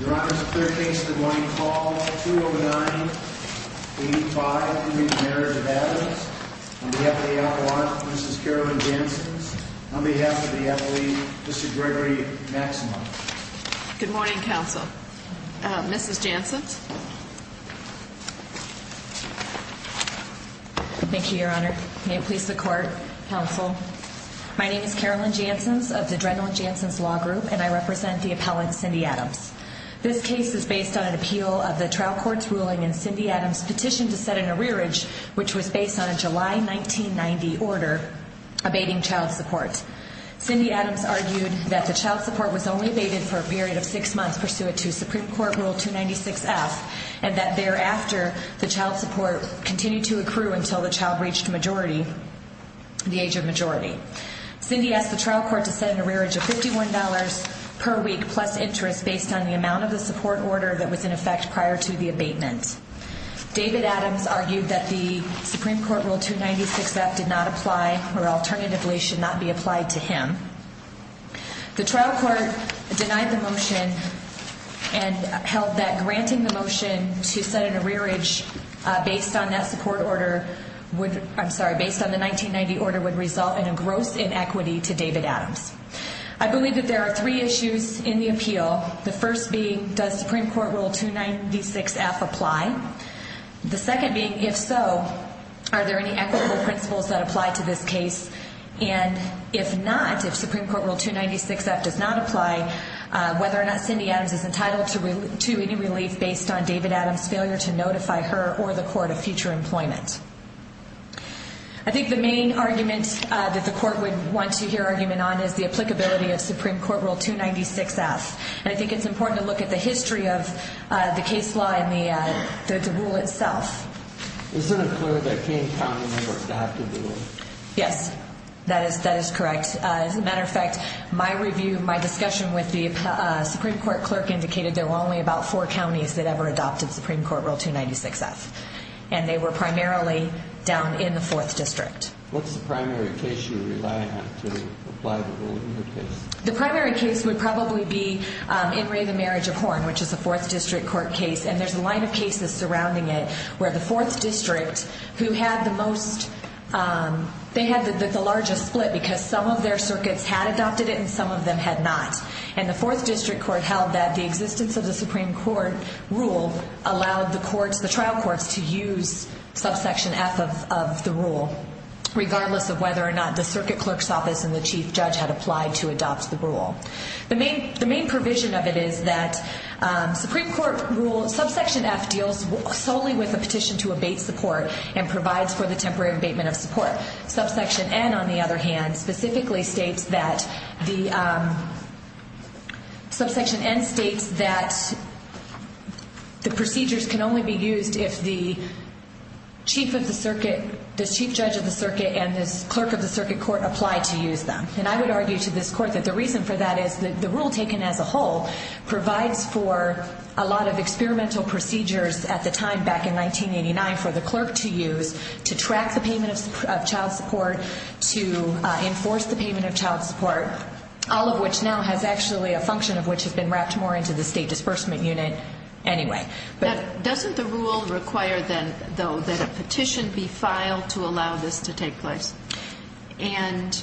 Your Honor, it's a clear case that we're going to call 2-09-85 in the Marriage of Adams. On behalf of the appellant, Mrs. Carolyn Janssens. On behalf of the appellee, Mr. Gregory Maximoff. Good morning, Counsel. Mrs. Janssens? Thank you, Your Honor. May it please the Court, Counsel. My name is Carolyn Janssens of the Dreadnought Janssens Law Group and I represent the appellant, Cindy Adams. This case is based on an appeal of the trial court's ruling in Cindy Adams' petition to set an arrearage which was based on a July 1990 order abating child support. Cindy Adams argued that the child support was only abated for a period of six months pursuant to Supreme Court Rule 296F and that thereafter the child support continued to accrue until the child reached the age of majority. Cindy asked the trial court to set an arrearage of $51 per week plus interest based on the amount of the support order that was in effect prior to the abatement. David Adams argued that the Supreme Court Rule 296F did not apply or alternatively should not be applied to him. The trial court denied the motion and held that granting the motion to set an arrearage based on that support order would, I'm sorry, based on the 1990 order would result in a gross inequity to David Adams. I believe that there are three issues in the appeal. The first being, does Supreme Court Rule 296F apply? The second being, if so, are there any equitable principles that apply to this case? And if not, if Supreme Court Rule 296F does not apply, whether or not Cindy Adams is entitled to any relief based on David Adams' failure to notify her or the court of future employment. I think the main argument that the court would want to hear argument on is the applicability of Supreme Court Rule 296F. And I think it's important to look at the history of the case law and the rule itself. Isn't it clear that King County never adopted the rule? Yes, that is correct. As a matter of fact, my review, my discussion with the Supreme Court clerk indicated there were only about four counties that ever adopted Supreme Court Rule 296F. And they were primarily down in the 4th District. What's the primary case you rely on to apply the rule in your case? The primary case would probably be in Ray the Marriage of Horn, which is a 4th District court case. And there's a line of cases surrounding it where the 4th District, who had the most, they had the largest split because some of their circuits had adopted it and some of them had not. And the 4th District court held that the existence of the Supreme Court Rule allowed the trial courts to use subsection F of the rule, regardless of whether or not the circuit clerk's office and the chief judge had applied to adopt the rule. The main provision of it is that subsection F deals solely with a petition to abate support and provides for the temporary abatement of support. Subsection N, on the other hand, specifically states that the, subsection N states that the procedures can only be used if the chief of the circuit, the chief judge of the circuit and the clerk of the circuit court apply to use them. And I would argue to this court that the reason for that is that the rule taken as a whole provides for a lot of experimental procedures at the time back in 1989 for the clerk to use to track the payment of child support, to enforce the payment of child support, all of which now has actually a function of which has been wrapped more into the State Disbursement Unit anyway. But doesn't the rule require then, though, that a petition be filed to allow this to take place? And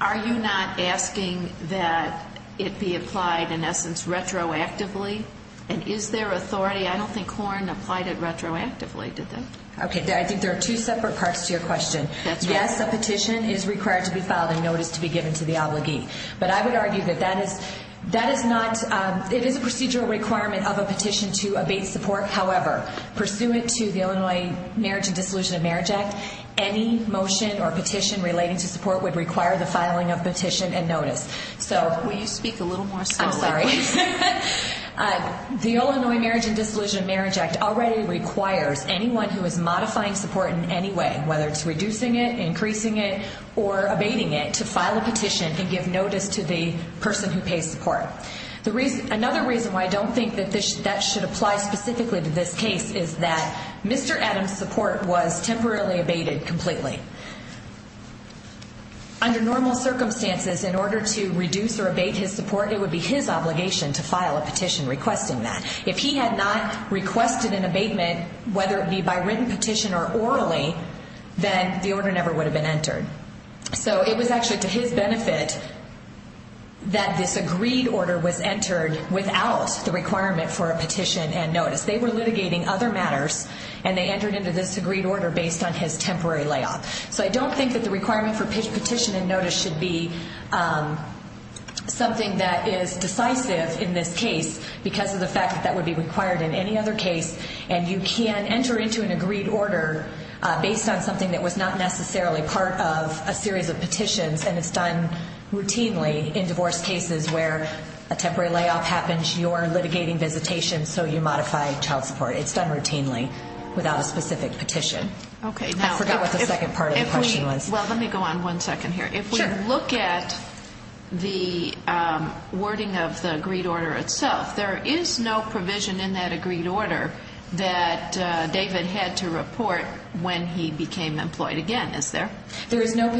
are you not asking that it be applied, in essence, retroactively? And is there authority? I don't think Horne applied it retroactively, did they? Okay, I think there are two separate parts to your question. Yes, a petition is required to be filed and notice to be given to the obligee. But I would argue that that is not, it is a procedural requirement of a petition to abate support. However, pursuant to the Illinois Marriage and Dissolution of Marriage Act, any motion or petition relating to support would require the filing of petition and notice. Will you speak a little more slowly? I'm sorry. The Illinois Marriage and Dissolution of Marriage Act already requires anyone who is modifying support in any way, whether it's reducing it, increasing it or abating it, to file a petition and give notice to the person who pays support. Another reason why I don't think that that should apply specifically to this case is that Mr. Adams' support was temporarily abated completely. Under normal circumstances, in order to reduce or abate his support, it would be his obligation to file a petition requesting that. If he had not requested an abatement, whether it be by written petition or orally, then the order never would have been entered. So it was actually to his benefit that this agreed order was entered without the requirement for a petition and notice. They were litigating other matters and they entered into this agreed order based on his temporary layoff. So I don't think that the requirement for petition and notice should be something that is decisive in this case because of the fact that that would be required in any other case. And you can enter into an agreed order based on something that was not necessarily part of a series of petitions, and it's done routinely in divorce cases where a temporary layoff happens, you're litigating visitation, so you modify child support. It's done routinely without a specific petition. I forgot what the second part of the question was. Well, let me go on one second here. If we look at the wording of the agreed order itself, there is no provision in that agreed order that David had to report when he became employed again, is there? There is no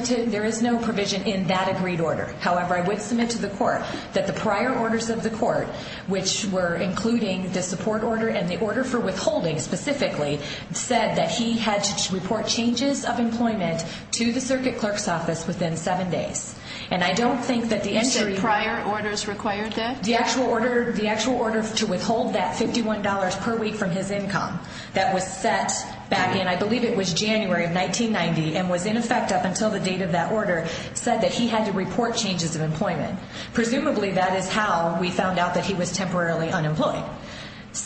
provision in that agreed order. However, I would submit to the court that the prior orders of the court, which were including the support order and the order for withholding specifically, said that he had to report changes of employment to the circuit clerk's office within seven days. And I don't think that the entry prior orders required that. The actual order, the actual order to withhold that $51 per week from his income that was set back in, I believe it was January of 1990 and was in effect up until the date of that order said that he had to report changes of employment. Presumably that is how we found out that he was temporarily unemployed.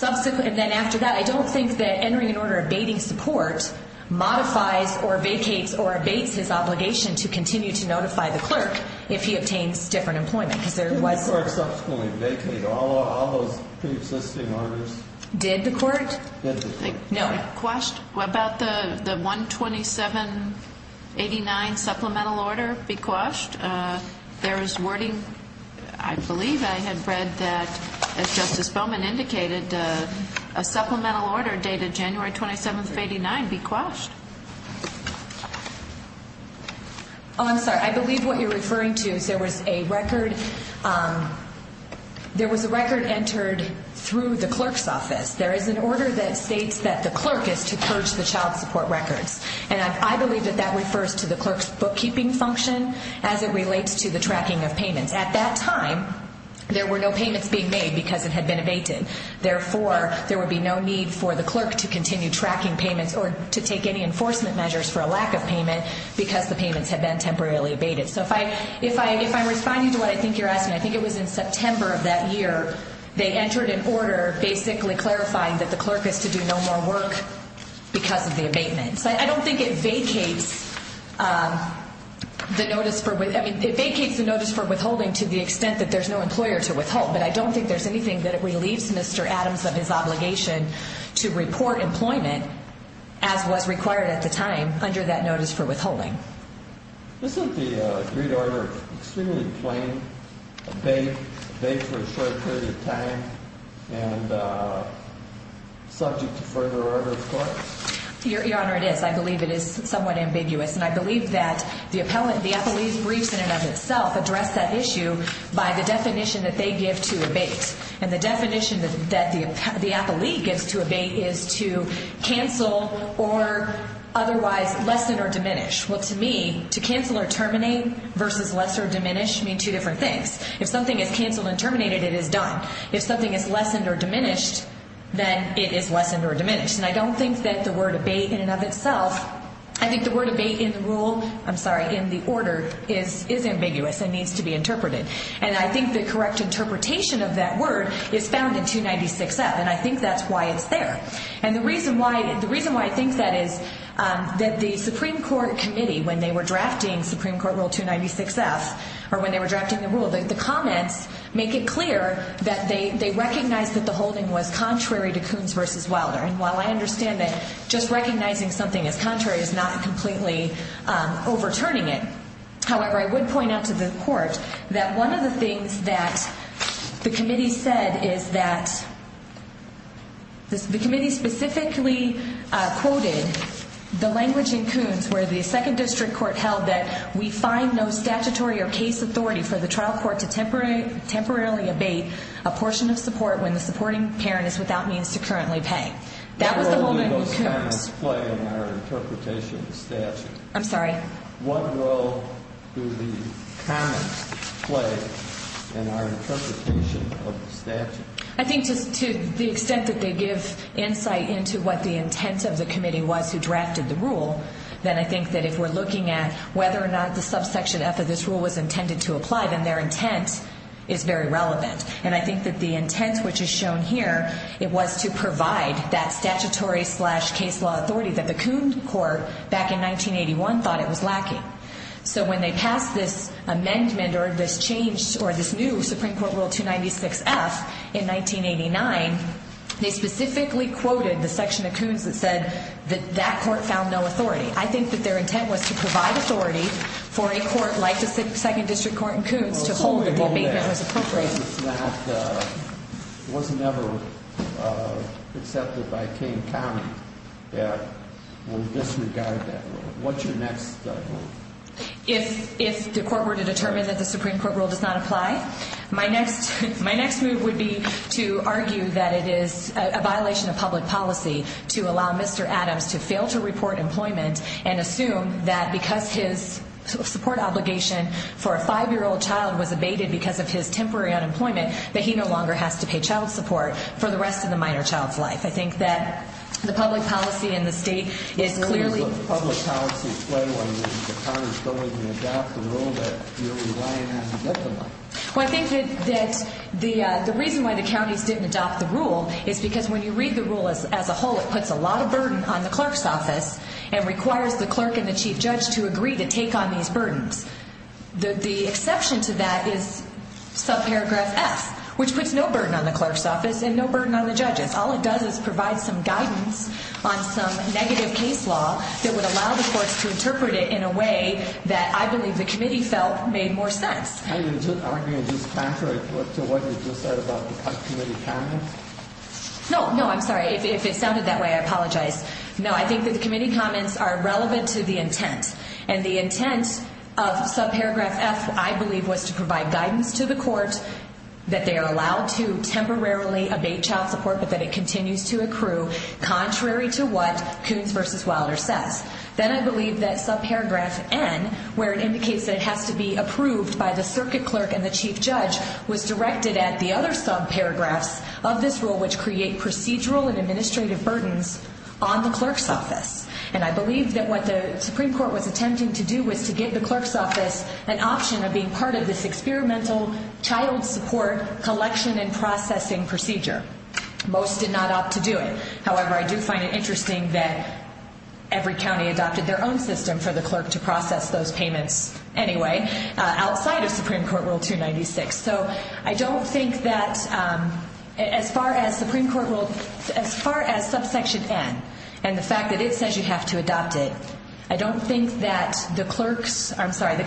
And then after that, I don't think that entering an order abating support modifies or vacates or abates his obligation to continue to notify the clerk if he obtains different employment. Didn't the court subsequently vacate all those pre-existing orders? Did the court? Did the court. No. Quashed? What about the 12789 supplemental order be quashed? There is wording, I believe I had read that, as Justice Bowman indicated, a supplemental order dated January 27th of 89 be quashed. Oh, I'm sorry. I believe what you're referring to is there was a record, there was a record entered through the clerk's office. There is an order that states that the clerk is to purge the child support records. And I believe that that refers to the clerk's bookkeeping function as it relates to the tracking of payments. At that time, there were no payments being made because it had been abated. Therefore, there would be no need for the clerk to continue tracking payments or to take any enforcement measures for a lack of payment because the payments had been temporarily abated. So if I'm responding to what I think you're asking, I think it was in September of that year, they entered an order basically clarifying that the clerk is to do no more work because of the abatement. So I don't think it vacates the notice for withholding to the extent that there's no employer to withhold, but I don't think there's anything that relieves Mr. Adams of his obligation to report employment as was required at the time under that notice for withholding. Isn't the agreed order extremely plain? Abate for a short period of time and subject to further order of court? Your Honor, it is. I believe it is somewhat ambiguous, and I believe that the appellee's briefs in and of itself address that issue by the definition that they give to abate. And the definition that the appellee gives to abate is to cancel or otherwise lessen or diminish. Well, to me, to cancel or terminate versus less or diminish mean two different things. If something is canceled and terminated, it is done. If something is lessened or diminished, then it is lessened or diminished. And I don't think that the word abate in and of itself, I think the word abate in the rule, I'm sorry, in the order is ambiguous and needs to be interpreted. And I think the correct interpretation of that word is found in 296F, and I think that's why it's there. And the reason why I think that is that the Supreme Court committee, when they were drafting Supreme Court Rule 296F, or when they were drafting the rule, the comments make it clear that they recognize that the holding was contrary to Coons v. Wilder. And while I understand that just recognizing something as contrary is not completely overturning it, however, I would point out to the court that one of the things that the committee said is that the committee specifically quoted the language in Coons where the second district court held that we find no statutory or case authority for the trial court to temporarily abate a portion of support when the supporting parent is without means to currently pay. That was the whole name of Coons. What role do those comments play in our interpretation of the statute? I'm sorry? What role do the comments play in our interpretation of the statute? I think just to the extent that they give insight into what the intent of the committee was who drafted the rule, then I think that if we're looking at whether or not the subsection F of this rule was intended to apply, then their intent is very relevant. And I think that the intent, which is shown here, it was to provide that statutory slash case law authority that the Coons court back in 1981 thought it was lacking. So when they passed this amendment or this change or this new Supreme Court Rule 296F in 1989, they specifically quoted the section of Coons that said that that court found no authority. I think that their intent was to provide authority for a court like the second district court in Coons to hold that the abatement was appropriate. It was never accepted by King County that will disregard that rule. What's your next move? Well, I think that the reason why the counties didn't adopt the rule is because when you read the rule as a whole, it puts a lot of burden on the clerk's office. And requires the clerk and the chief judge to agree to take on these burdens. The exception to that is subparagraph F, which puts no burden on the clerk's office and no burden on the judges. All it does is provide some guidance on some negative case law that would allow the courts to interpret it in a way that I believe the committee felt made more sense. Are you arguing just contrary to what you just said about the committee counting? No, no, I'm sorry. If it sounded that way, I apologize. No, I think that the committee comments are relevant to the intent. And the intent of subparagraph F, I believe, was to provide guidance to the court that they are allowed to temporarily abate child support but that it continues to accrue contrary to what Coons v. Wilder says. Then I believe that subparagraph N, where it indicates that it has to be approved by the circuit clerk and the chief judge, was directed at the other subparagraphs of this rule which create procedural and administrative burdens on the clerk's office. And I believe that what the Supreme Court was attempting to do was to give the clerk's office an option of being part of this experimental child support collection and processing procedure. Most did not opt to do it. However, I do find it interesting that every county adopted their own system for the clerk to process those payments anyway outside of Supreme Court Rule 296. So I don't think that as far as subsection N and the fact that it says you have to adopt it, I don't think that the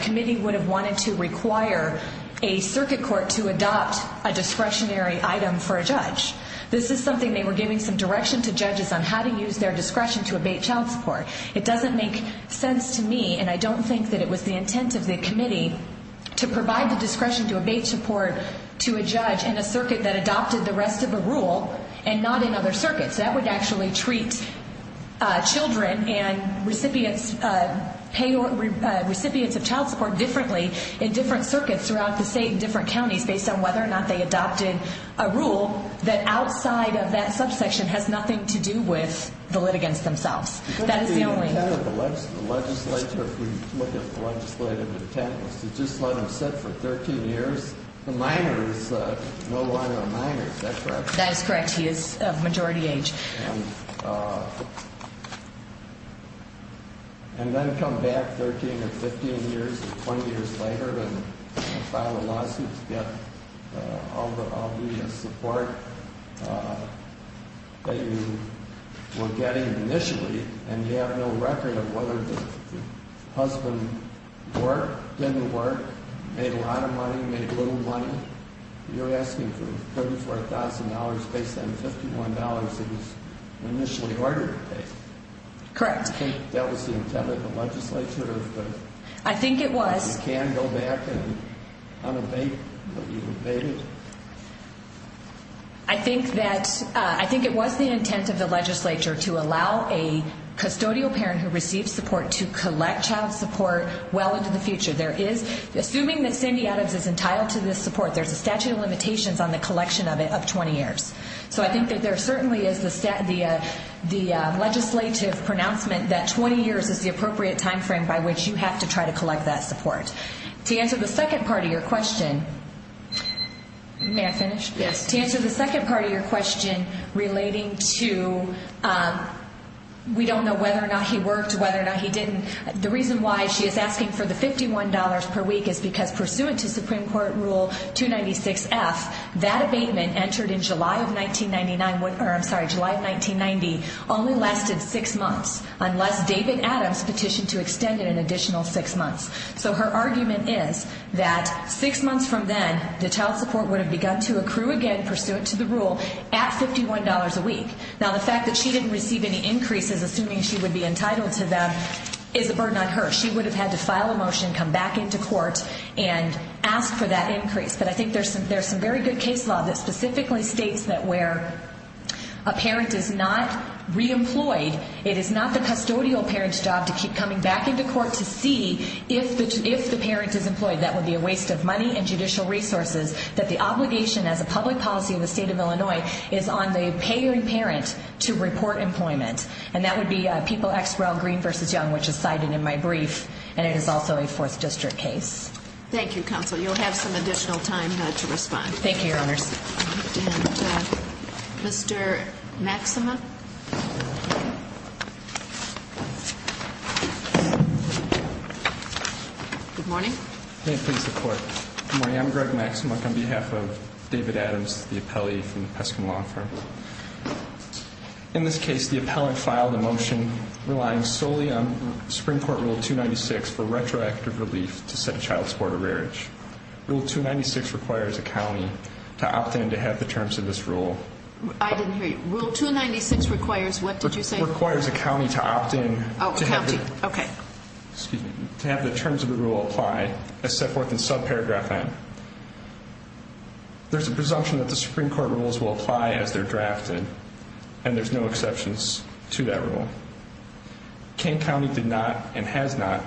committee would have wanted to require a circuit court to adopt a discretionary item for a judge. This is something they were giving some direction to judges on how to use their discretion to abate child support. It doesn't make sense to me, and I don't think that it was the intent of the committee, to provide the discretion to abate support to a judge in a circuit that adopted the rest of the rule and not in other circuits. That would actually treat children and recipients of child support differently in different circuits throughout the state and different counties based on whether or not they adopted a rule that outside of that subsection has nothing to do with the litigants themselves. The intent of the legislature, if we look at the legislative intent, was to just let them sit for 13 years. The minor is no longer a minor. Is that correct? That is correct. He is of majority age. And then come back 13 or 15 years or 20 years later and file a lawsuit to get all the support that you were getting initially, and you have no record of whether the husband worked, didn't work, made a lot of money, made little money. You're asking for $34,000 based on $51 that was initially ordered to pay. Correct. Do you think that was the intent of the legislature? I think it was. You can't go back and unabate what you abated. I think it was the intent of the legislature to allow a custodial parent who received support to collect child support well into the future. Assuming that Cindy Adams is entitled to this support, there's a statute of limitations on the collection of it of 20 years. So I think that there certainly is the legislative pronouncement that 20 years is the appropriate time frame by which you have to try to collect that support. To answer the second part of your question relating to we don't know whether or not he worked, whether or not he didn't. The reason why she is asking for the $51 per week is because pursuant to Supreme Court Rule 296F, that abatement entered in July of 1990 only lasted six months, unless David Adams petitioned to extend it an additional six months. So her argument is that six months from then, the child support would have begun to accrue again pursuant to the rule at $51 a week. Now the fact that she didn't receive any increases, assuming she would be entitled to them, is a burden on her. She would have had to file a motion, come back into court, and ask for that increase. But I think there's some very good case law that specifically states that where a parent is not re-employed, it is not the custodial parent's job to keep coming back into court to see if the parent is employed. That would be a waste of money and judicial resources. That the obligation as a public policy in the state of Illinois is on the parent to report employment. And that would be People x Royal Green v. Young, which is cited in my brief. And it is also a 4th District case. Thank you, Counsel. You'll have some additional time to respond. Thank you, Your Honors. And Mr. Maxima? Good morning. May it please the Court. Good morning. I'm Greg Maxima on behalf of David Adams, the appellee from the Peskin Law Firm. In this case, the appellant filed a motion relying solely on Supreme Court Rule 296 for retroactive relief to set a child support average. Rule 296 requires a county to opt in to have the terms of this rule. It requires what did you say? It requires a county to opt in. Oh, a county. Okay. Excuse me. To have the terms of the rule apply as set forth in subparagraph N. There's a presumption that the Supreme Court rules will apply as they're drafted. And there's no exceptions to that rule. King County did not and has not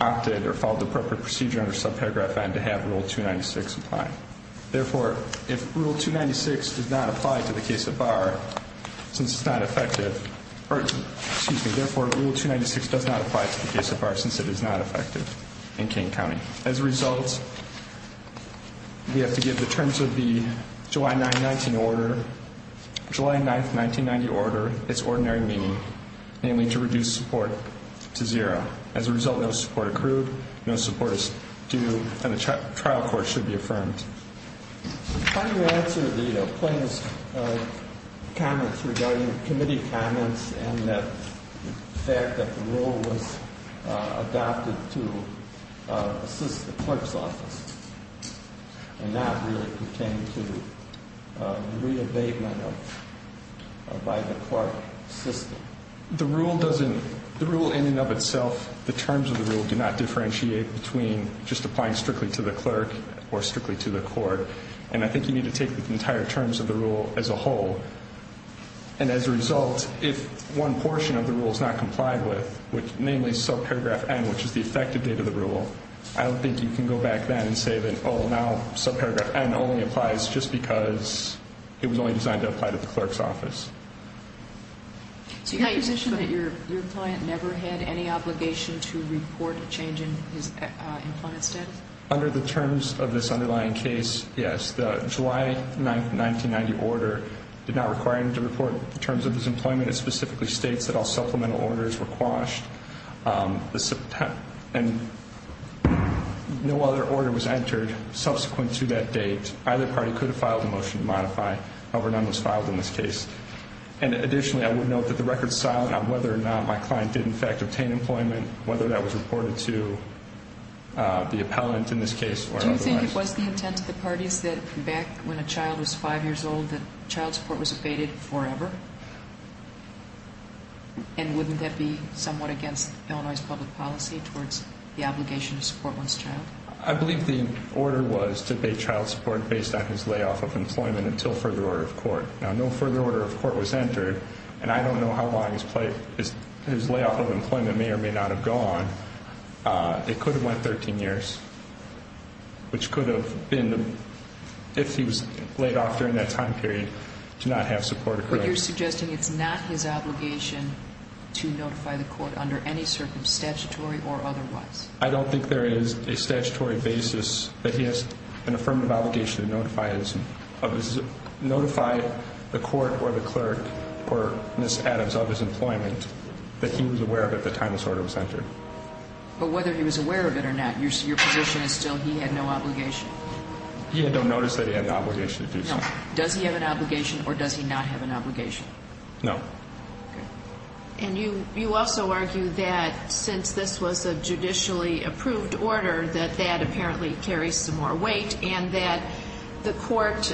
opted or followed the appropriate procedure under subparagraph N to have Rule 296 apply. Therefore, if Rule 296 does not apply to the case of Barr since it's not effective. Excuse me. Therefore, Rule 296 does not apply to the case of Barr since it is not effective in King County. As a result, we have to give the terms of the July 9, 1990 order its ordinary meaning, namely to reduce support to zero. As a result, no support accrued, no support is due, and the trial court should be affirmed. How do you answer the plaintiff's comments regarding committee comments and the fact that the rule was adopted to assist the clerk's office and not really pertain to re-abatement by the court system? The rule in and of itself, the terms of the rule do not differentiate between just applying strictly to the clerk or strictly to the court. And I think you need to take the entire terms of the rule as a whole. And as a result, if one portion of the rule is not complied with, namely subparagraph N, which is the effective date of the rule, I don't think you can go back then and say that, oh, now subparagraph N only applies just because it was only designed to apply to the clerk's office. So you have a position that your client never had any obligation to report a change in his employment status? Under the terms of this underlying case, yes. The July 9, 1990 order did not require him to report the terms of his employment. It specifically states that all supplemental orders were quashed and no other order was entered subsequent to that date. In other words, either party could have filed a motion to modify, however, none was filed in this case. And additionally, I would note that the record is silent on whether or not my client did in fact obtain employment, whether that was reported to the appellant in this case or otherwise. Do you think it was the intent of the parties that back when a child was 5 years old that child support was abated forever? And wouldn't that be somewhat against Illinois' public policy towards the obligation to support one's child? I believe the order was to abate child support based on his layoff of employment until further order of court. Now, no further order of court was entered, and I don't know how long his layoff of employment may or may not have gone. It could have went 13 years, which could have been if he was laid off during that time period to not have support accrued. But you're suggesting it's not his obligation to notify the court under any circumstance, statutory or otherwise? I don't think there is a statutory basis that he has an affirmative obligation to notify the court or the clerk or Ms. Adams of his employment that he was aware of at the time this order was entered. But whether he was aware of it or not, your position is still he had no obligation? He had no notice that he had the obligation to do so. Does he have an obligation or does he not have an obligation? No. And you also argue that since this was a judicially approved order, that that apparently carries some more weight and that the court's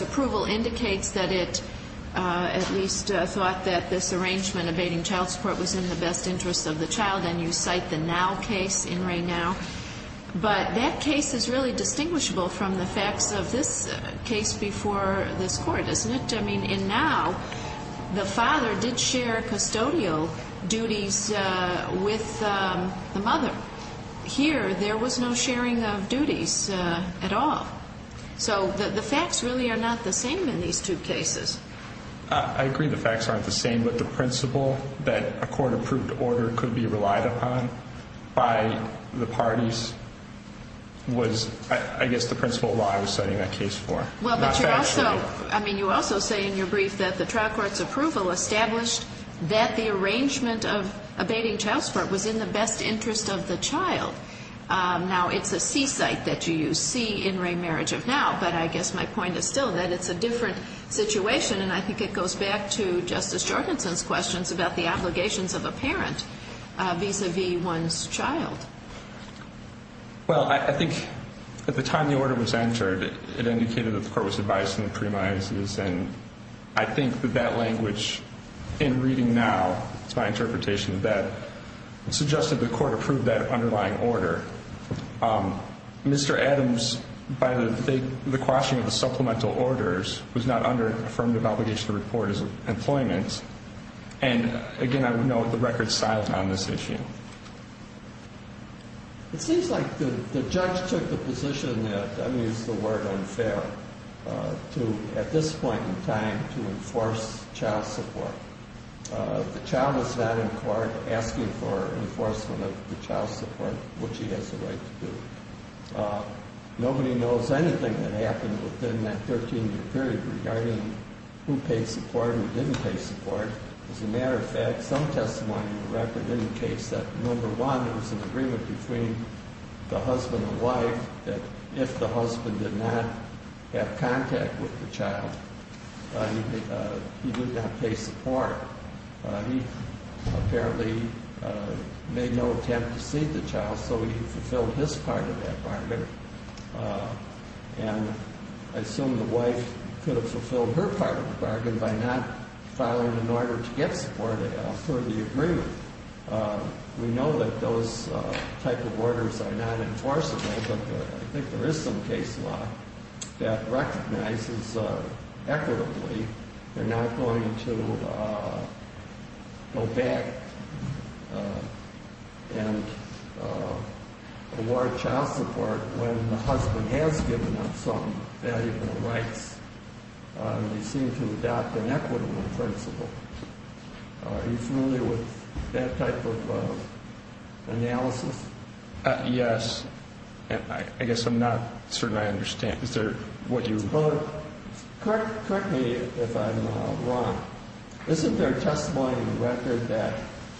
approval indicates that it at least thought that this arrangement abating child support was in the best interest of the child, and you cite the Now case in Ray Now. But that case is really distinguishable from the facts of this case before this Court, isn't it? In fact, I mean, in Now, the father did share custodial duties with the mother. Here, there was no sharing of duties at all. So the facts really are not the same in these two cases. I agree the facts aren't the same, but the principle that a court-approved order could be relied upon by the parties was, I guess, the principle of law I was citing that case for. Well, but you're also – I mean, you also say in your brief that the trial court's approval established that the arrangement of abating child support was in the best interest of the child. Now, it's a C-site that you see in Ray Marriage of Now, but I guess my point is still that it's a different situation, and I think it goes back to Justice Jorgenson's questions about the obligations of a parent vis-à-vis one's child. Well, I think at the time the order was entered, it indicated that the court was advised in the premises, and I think that that language in reading Now, it's my interpretation of that, suggested the court approved that underlying order. Mr. Adams, by the quashing of the supplemental orders, was not under affirmative obligation to report his employment, and, again, I would note the record styles on this issue. It seems like the judge took the position that – I'm going to use the word unfair – to, at this point in time, to enforce child support. The child is not in court asking for enforcement of the child's support, which he has the right to do. Nobody knows anything that happened within that 13-year period regarding who paid support and who didn't pay support. As a matter of fact, some testimony in the record indicates that, number one, there was an agreement between the husband and wife that if the husband did not have contact with the child, he did not pay support. He apparently made no attempt to see the child, so he fulfilled his part of that bargain. And I assume the wife could have fulfilled her part of the bargain by not filing an order to get support for the agreement. We know that those type of orders are not enforceable, but I think there is some case law that recognizes equitably they're not going to go back and award child support when the husband has given up some valuable rights. They seem to adopt an equitable principle. Are you familiar with that type of analysis? Yes. I guess I'm not certain I understand. Is there what you – Well, correct me if I'm wrong. Isn't there testimony in the record that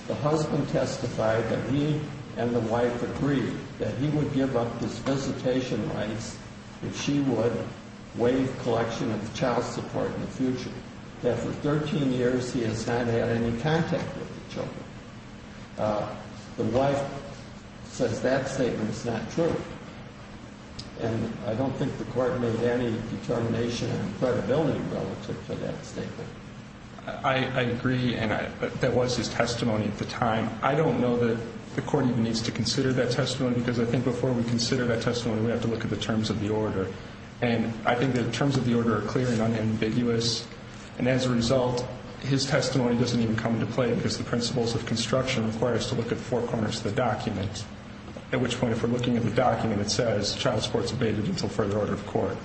the husband testified that he and the wife agreed that he would give up his visitation rights if she would waive collection of child support in the future, that for 13 years he has not had any contact with the children? The wife says that statement is not true. And I don't think the court made any determination in credibility relative to that statement. I agree, and that was his testimony at the time. I don't know that the court even needs to consider that testimony, because I think before we consider that testimony, we have to look at the terms of the order. And I think the terms of the order are clear and unambiguous. And as a result, his testimony doesn't even come into play, because the principles of construction require us to look at four corners of the document, at which point, if we're looking at the document, it says child support is abated until further order of court.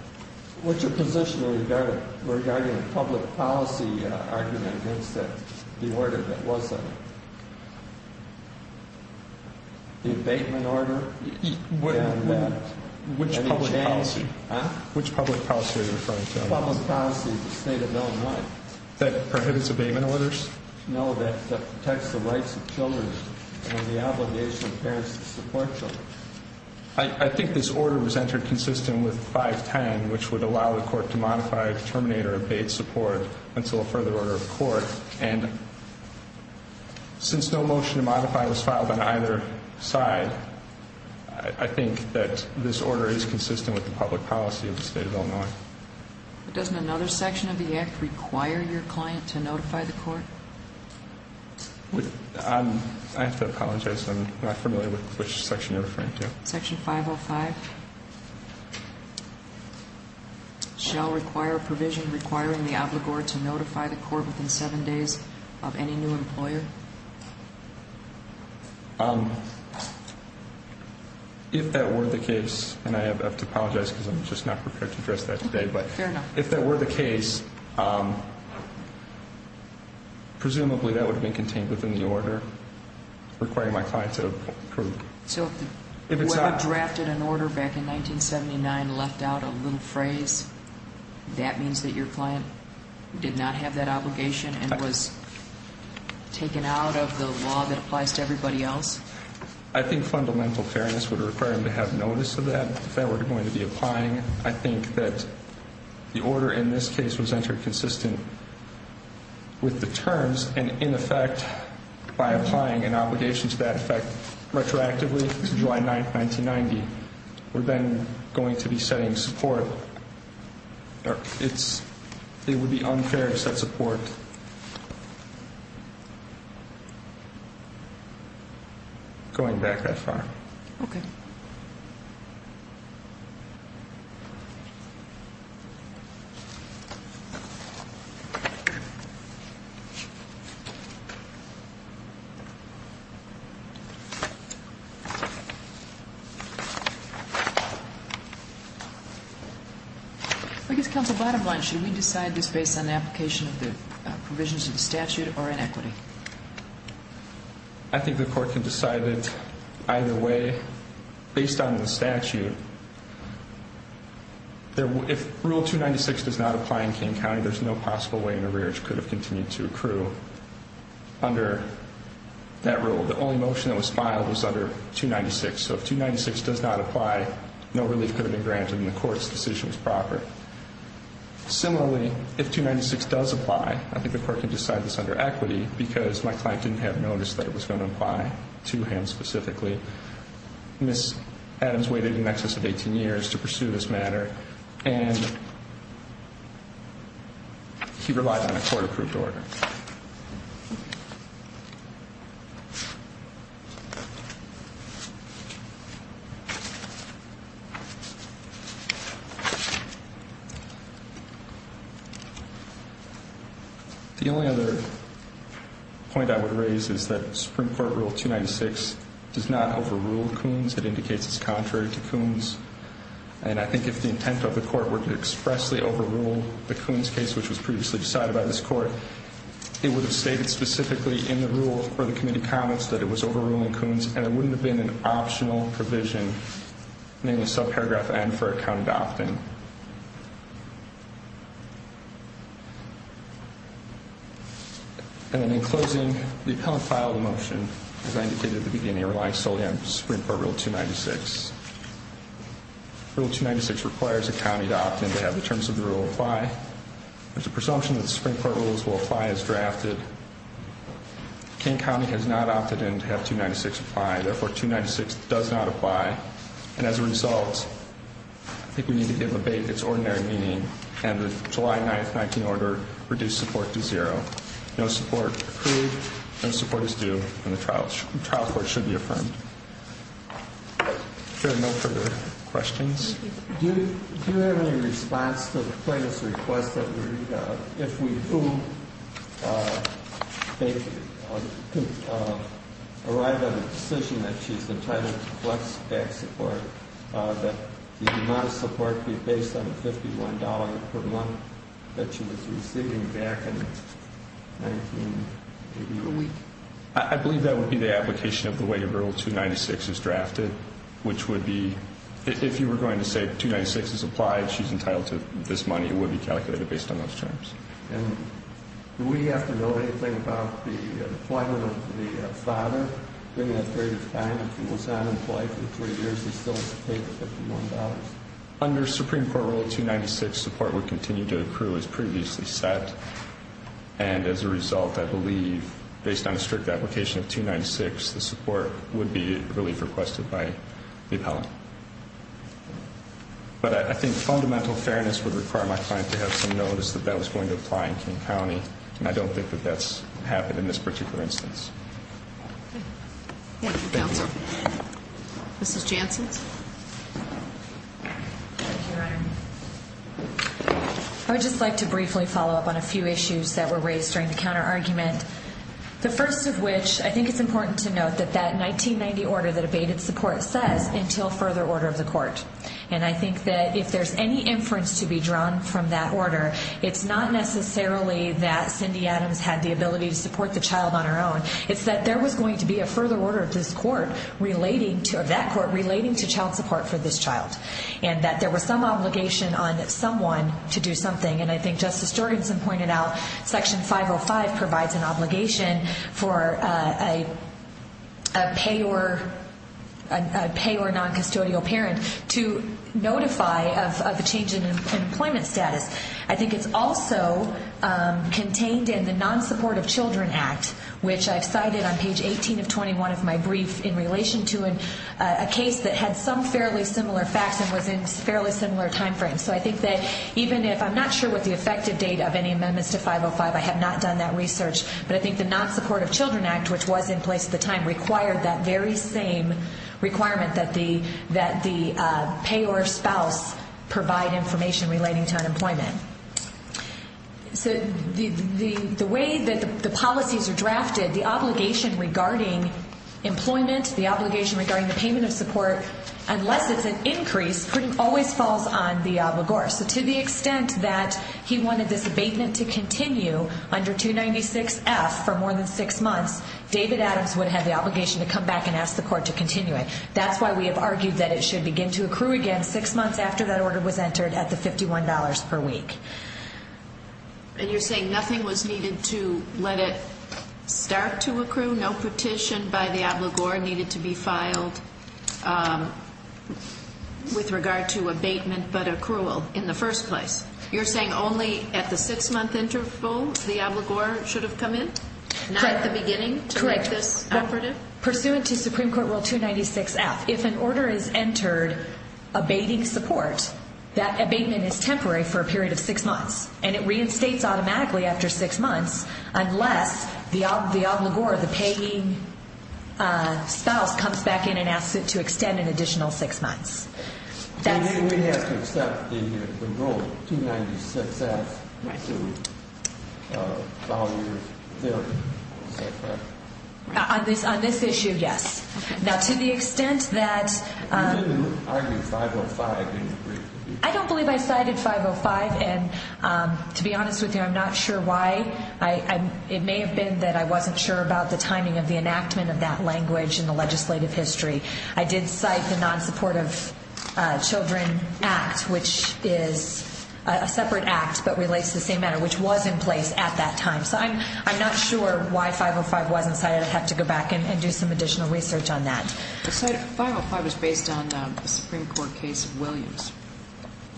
What's your position regarding the public policy argument against the order that was the abatement order? Which public policy? Which public policy are you referring to? Public policy of the state of Illinois. That prohibits abatement orders? No, that protects the rights of children and the obligation of parents to support children. I think this order was entered consistent with 510, which would allow the court to modify, terminate, or abate support until a further order of court. And since no motion to modify was filed on either side, I think that this order is consistent with the public policy of the state of Illinois. Doesn't another section of the act require your client to notify the court? I have to apologize. I'm not familiar with which section you're referring to. Section 505. Shall require a provision requiring the obligor to notify the court within seven days of any new employer? If that were the case, and I have to apologize because I'm just not prepared to address that today. Fair enough. If that were the case, presumably that would have been contained within the order requiring my client to approve. So if the lawyer drafted an order back in 1979 left out a little phrase, that means that your client did not have that obligation and was taken out of the law that applies to everybody else? I think fundamental fairness would require them to have notice of that if they were going to be applying it. I think that the order in this case was entered consistent with the terms, and, in effect, by applying an obligation to that effect retroactively to July 9, 1990, we're then going to be setting support. It would be unfair to set support going back that far. Okay. Thank you. I guess, counsel, bottom line, should we decide this based on the application of the provisions of the statute or in equity? I think the court can decide it either way. Based on the statute, if Rule 296 does not apply in King County, there's no possible way an arrearage could have continued to accrue under that rule. The only motion that was filed was under 296. So if 296 does not apply, no relief could have been granted, and the court's decision was proper. Similarly, if 296 does apply, I think the court can decide this under equity because my client didn't have notice that it was going to apply to him specifically. Ms. Adams waited in excess of 18 years to pursue this matter, and he relied on a court-approved order. The only other point I would raise is that Supreme Court Rule 296 does not overrule Coons. It indicates it's contrary to Coons. And I think if the intent of the court were to expressly overrule the Coons case, which was previously decided by this court, it would have stated specifically in the rule or the committee comments that it was overruling Coons, and it wouldn't have been an optional provision, namely subparagraph N, for a county to opt in. And then in closing, the appellant filed a motion, as I indicated at the beginning, relying solely on Supreme Court Rule 296. Rule 296 requires a county to opt in to have the terms of the rule apply. There's a presumption that the Supreme Court rules will apply as drafted. King County has not opted in to have 296 apply. Therefore, 296 does not apply. And as a result, I think we need to give abate its ordinary meaning and the July 9, 19 order reduce support to zero. No support approved, no support is due, and the trial court should be affirmed. Chair, no further questions? Do you have any response to the plaintiff's request that if we do, arrive at a decision that she's entitled to flex-back support, that the amount of support be based on the $51 per month that she was receiving back in 1988? I believe that would be the application of the way Rule 296 is drafted, which would be, if you were going to say 296 is applied, she's entitled to this money, it would be calculated based on those terms. And do we have to know anything about the employment of the father during that period of time if he was unemployed for three years and still has to pay the $51? Under Supreme Court Rule 296, support would continue to accrue as previously set. And as a result, I believe, based on a strict application of 296, the support would be relief requested by the appellant. But I think fundamental fairness would require my client to have some notice that that was going to apply in King County, and I don't think that that's happened in this particular instance. Thank you, counsel. Mrs. Janssen? Thank you, Your Honor. I would just like to briefly follow up on a few issues that were raised during the counterargument, the first of which, I think it's important to note, that that 1990 order that abated support says, until further order of the court. And I think that if there's any inference to be drawn from that order, it's not necessarily that Cindy Adams had the ability to support the child on her own. It's that there was going to be a further order of this court, of that court, relating to child support for this child. And that there was some obligation on someone to do something, and I think Justice Jorgensen pointed out Section 505 provides an obligation for a payor noncustodial parent to notify of the change in employment status. I think it's also contained in the Non-Support of Children Act, which I've cited on page 18 of 21 of my brief in relation to a case that had some fairly similar facts and was in fairly similar timeframes. So I think that even if I'm not sure what the effective date of any amendments to 505, I have not done that research, but I think the Non-Support of Children Act, which was in place at the time, required that very same requirement that the payor spouse provide information relating to unemployment. So the way that the policies are drafted, the obligation regarding employment, the obligation regarding the payment of support, unless it's an increase, always falls on the obligor. So to the extent that he wanted this abatement to continue under 296F for more than six months, David Adams would have the obligation to come back and ask the court to continue it. That's why we have argued that it should begin to accrue again six months after that order was entered at the $51 per week. And you're saying nothing was needed to let it start to accrue, no petition by the obligor needed to be filed with regard to abatement, but accrual in the first place. You're saying only at the six-month interval the obligor should have come in, not at the beginning to make this operative? Correct. Pursuant to Supreme Court Rule 296F, if an order is entered abating support, that abatement is temporary for a period of six months, and it reinstates automatically after six months, unless the obligor, the paying spouse, comes back in and asks it to extend an additional six months. Then we'd have to accept the Rule 296F to follow your theory. On this issue, yes. Now, to the extent that... You didn't argue 505 in your brief. I don't believe I cited 505. And to be honest with you, I'm not sure why. It may have been that I wasn't sure about the timing of the enactment of that language in the legislative history. I did cite the Non-Supportive Children Act, which is a separate act but relates to the same matter, which was in place at that time. So I'm not sure why 505 wasn't cited. I'd have to go back and do some additional research on that. The 505 was based on the Supreme Court case of Williams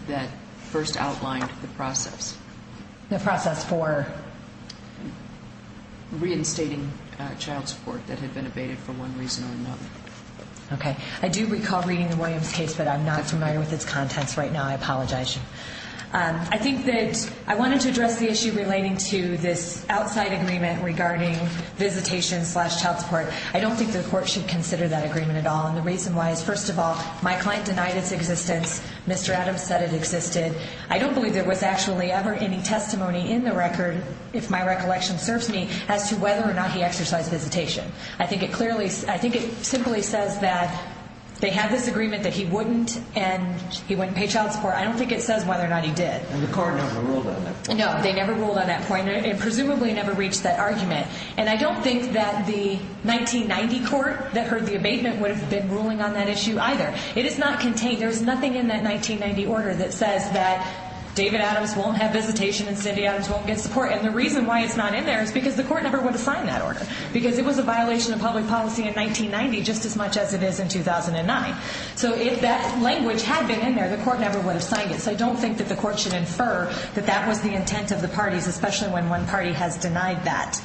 that first outlined the process. The process for? Reinstating child support that had been abated for one reason or another. Okay. I do recall reading the Williams case, but I'm not familiar with its contents right now. I apologize. I think that I wanted to address the issue relating to this outside agreement regarding visitation-slash-child support. I don't think the court should consider that agreement at all. And the reason why is, first of all, my client denied its existence. Mr. Adams said it existed. I don't believe there was actually ever any testimony in the record, if my recollection serves me, as to whether or not he exercised visitation. I think it simply says that they had this agreement that he wouldn't, and he wouldn't pay child support. I don't think it says whether or not he did. And the court never ruled on that. No, they never ruled on that point. It presumably never reached that argument. And I don't think that the 1990 court that heard the abatement would have been ruling on that issue either. It is not contained. There is nothing in that 1990 order that says that David Adams won't have visitation and Cindy Adams won't get support. And the reason why it's not in there is because the court never would have signed that order because it was a violation of public policy in 1990 just as much as it is in 2009. So if that language had been in there, the court never would have signed it. So I don't think that the court should infer that that was the intent of the parties, especially when one party has denied that.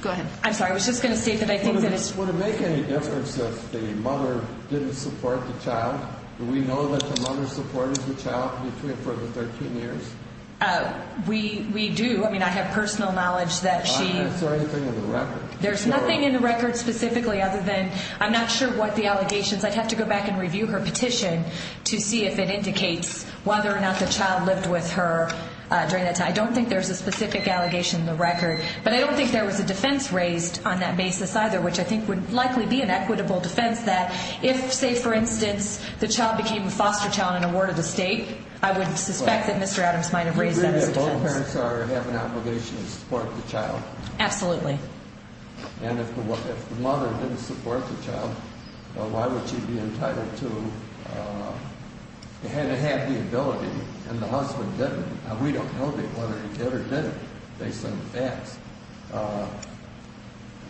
Go ahead. I'm sorry. I was just going to say that I think that it's... Would it make any difference if the mother didn't support the child? Do we know that the mother supported the child for the 13 years? We do. I mean, I have personal knowledge that she... Is there anything in the record? There's nothing in the record specifically other than I'm not sure what the allegations... I'd have to go back and review her petition to see if it indicates whether or not the child lived with her during that time. I don't think there's a specific allegation in the record. But I don't think there was a defense raised on that basis either, which I think would likely be an equitable defense that if, say, for instance, the child became a foster child in a ward of the state, I would suspect that Mr. Adams might have raised that as a defense. Do you believe that both parents have an obligation to support the child? Absolutely. And if the mother didn't support the child, why would she be entitled to... Had it had the ability, and the husband didn't, and we don't know whether he did or didn't based on the facts,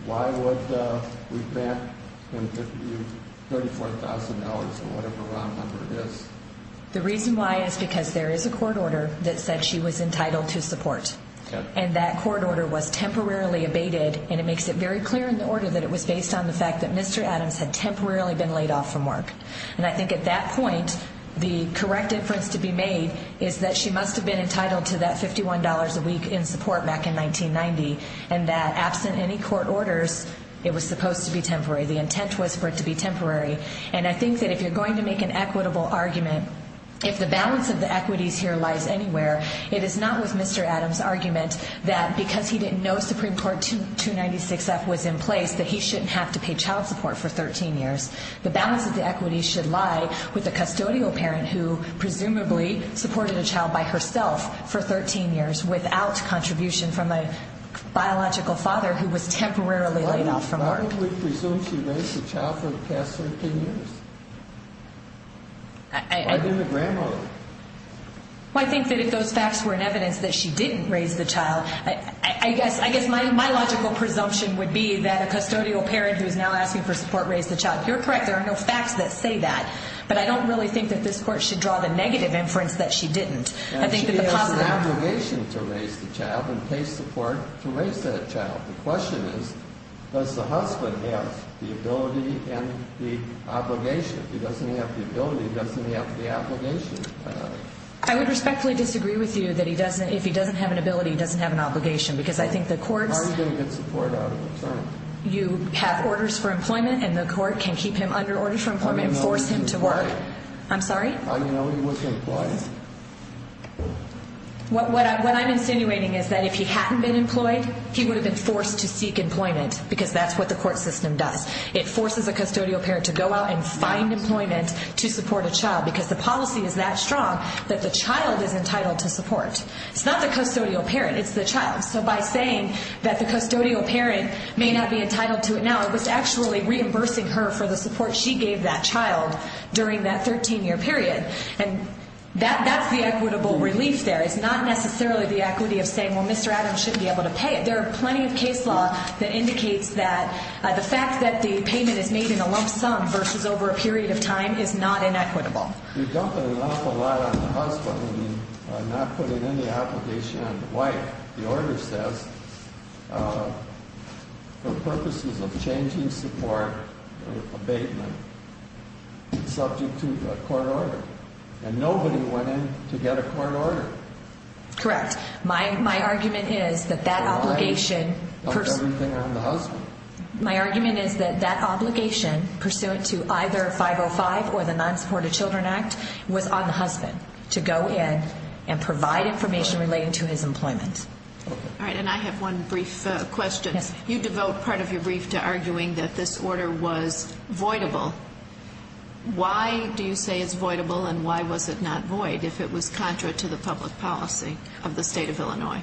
why would we grant him $34,000 or whatever round number it is? The reason why is because there is a court order that said she was entitled to support. And that court order was temporarily abated, and it makes it very clear in the order that it was based on the fact that Mr. Adams had temporarily been laid off from work. And I think at that point, the correct inference to be made is that she must have been entitled to that $51 a week in support back in 1990, and that absent any court orders, it was supposed to be temporary. The intent was for it to be temporary. And I think that if you're going to make an equitable argument, if the balance of the equities here lies anywhere, it is not with Mr. Adams' argument that because he didn't know that the Supreme Court 296F was in place, that he shouldn't have to pay child support for 13 years. The balance of the equities should lie with a custodial parent who presumably supported a child by herself for 13 years without contribution from a biological father who was temporarily laid off from work. Why would we presume she raised the child for the past 13 years? Why didn't the grandmother? Well, I think that if those facts were in evidence that she didn't raise the child, I guess my logical presumption would be that a custodial parent who is now asking for support raised the child. You're correct. There are no facts that say that. But I don't really think that this Court should draw the negative inference that she didn't. She has an obligation to raise the child and pay support to raise that child. The question is, does the husband have the ability and the obligation? If he doesn't have the ability, he doesn't have the obligation. I would respectfully disagree with you that if he doesn't have an ability, he doesn't have an obligation because I think the courts How are you going to get support out of a child? You have orders for employment and the court can keep him under order for employment I didn't know he was employed. I'm sorry? I didn't know he was employed. What I'm insinuating is that if he hadn't been employed, he would have been forced to seek employment because that's what the court system does. It forces a custodial parent to go out and find employment to support a child because the policy is that strong that the child is entitled to support. It's not the custodial parent. It's the child. So by saying that the custodial parent may not be entitled to it now, it was actually reimbursing her for the support she gave that child during that 13-year period. And that's the equitable relief there. It's not necessarily the equity of saying, well, Mr. Adams shouldn't be able to pay it. There are plenty of case law that indicates that the fact that the payment is made in a lump sum versus over a period of time is not inequitable. You're dumping an awful lot on the husband when you're not putting any obligation on the wife. The order says, for purposes of changing support, abatement, subject to a court order. And nobody went in to get a court order. Correct. My argument is that that obligation pursuant to either 505 or the Non-Supported Children Act was on the husband to go in and provide information relating to his employment. All right, and I have one brief question. You devote part of your brief to arguing that this order was voidable. Why do you say it's voidable and why was it not void if it was contrary to the public policy of the state of Illinois?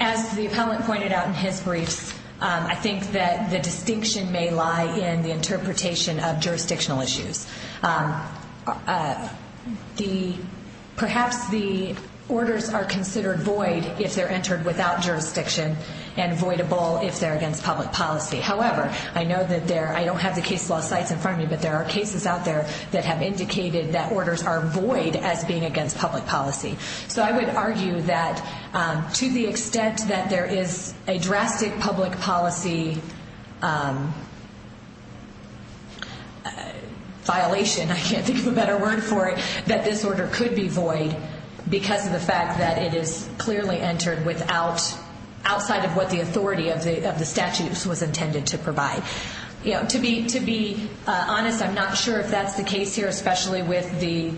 As the appellant pointed out in his brief, I think that the distinction may lie in the interpretation of jurisdictional issues. Perhaps the orders are considered void if they're entered without jurisdiction and voidable if they're against public policy. However, I don't have the case law sites in front of me, but there are cases out there that have indicated that orders are void as being against public policy. So I would argue that to the extent that there is a drastic public policy violation, I can't think of a better word for it, that this order could be void because of the fact that it is clearly entered outside of what the authority of the statutes was intended to provide. To be honest, I'm not sure if that's the case here, especially with the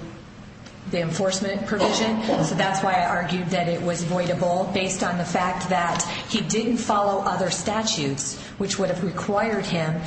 enforcement provision. So that's why I argued that it was voidable based on the fact that he didn't follow other statutes, which would have required him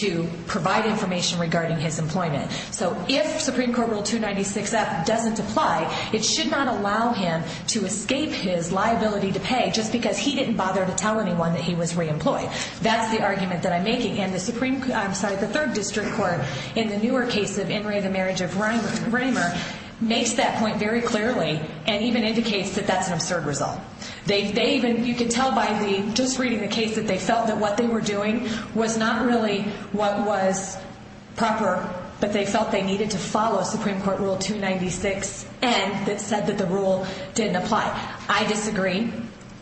to provide information regarding his employment. So if Supreme Court Rule 296F doesn't apply, it should not allow him to escape his liability to pay just because he didn't bother to tell anyone that he was reemployed. That's the argument that I'm making. And the third district court in the newer case of In re of the marriage of Reimer makes that point very clearly and even indicates that that's an absurd result. You can tell by just reading the case that they felt that what they were doing was not really what was proper, but they felt they needed to follow Supreme Court Rule 296N that said that the rule didn't apply. I disagree.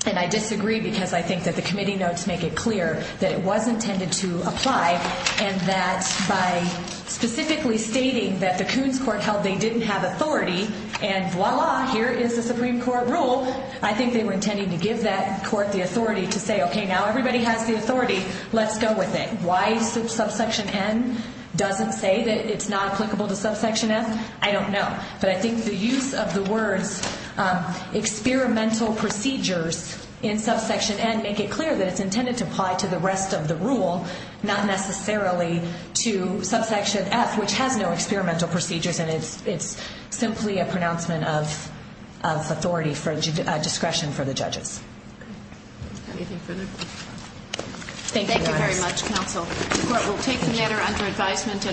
And I disagree because I think that the committee notes make it clear that it was intended to apply and that by specifically stating that the Coons court held they didn't have authority, and voila, here is the Supreme Court rule, I think they were intending to give that court the authority to say, OK, now everybody has the authority. Let's go with it. Why subsection N doesn't say that it's not applicable to subsection F? I don't know. But I think the use of the words experimental procedures in subsection N make it clear that it's intended to apply to the rest of the rule, not necessarily to subsection F, which has no experimental procedures, and it's simply a pronouncement of authority for discretion for the judges. Anything further? Thank you. Thank you very much, counsel. The court will take the matter under advisement.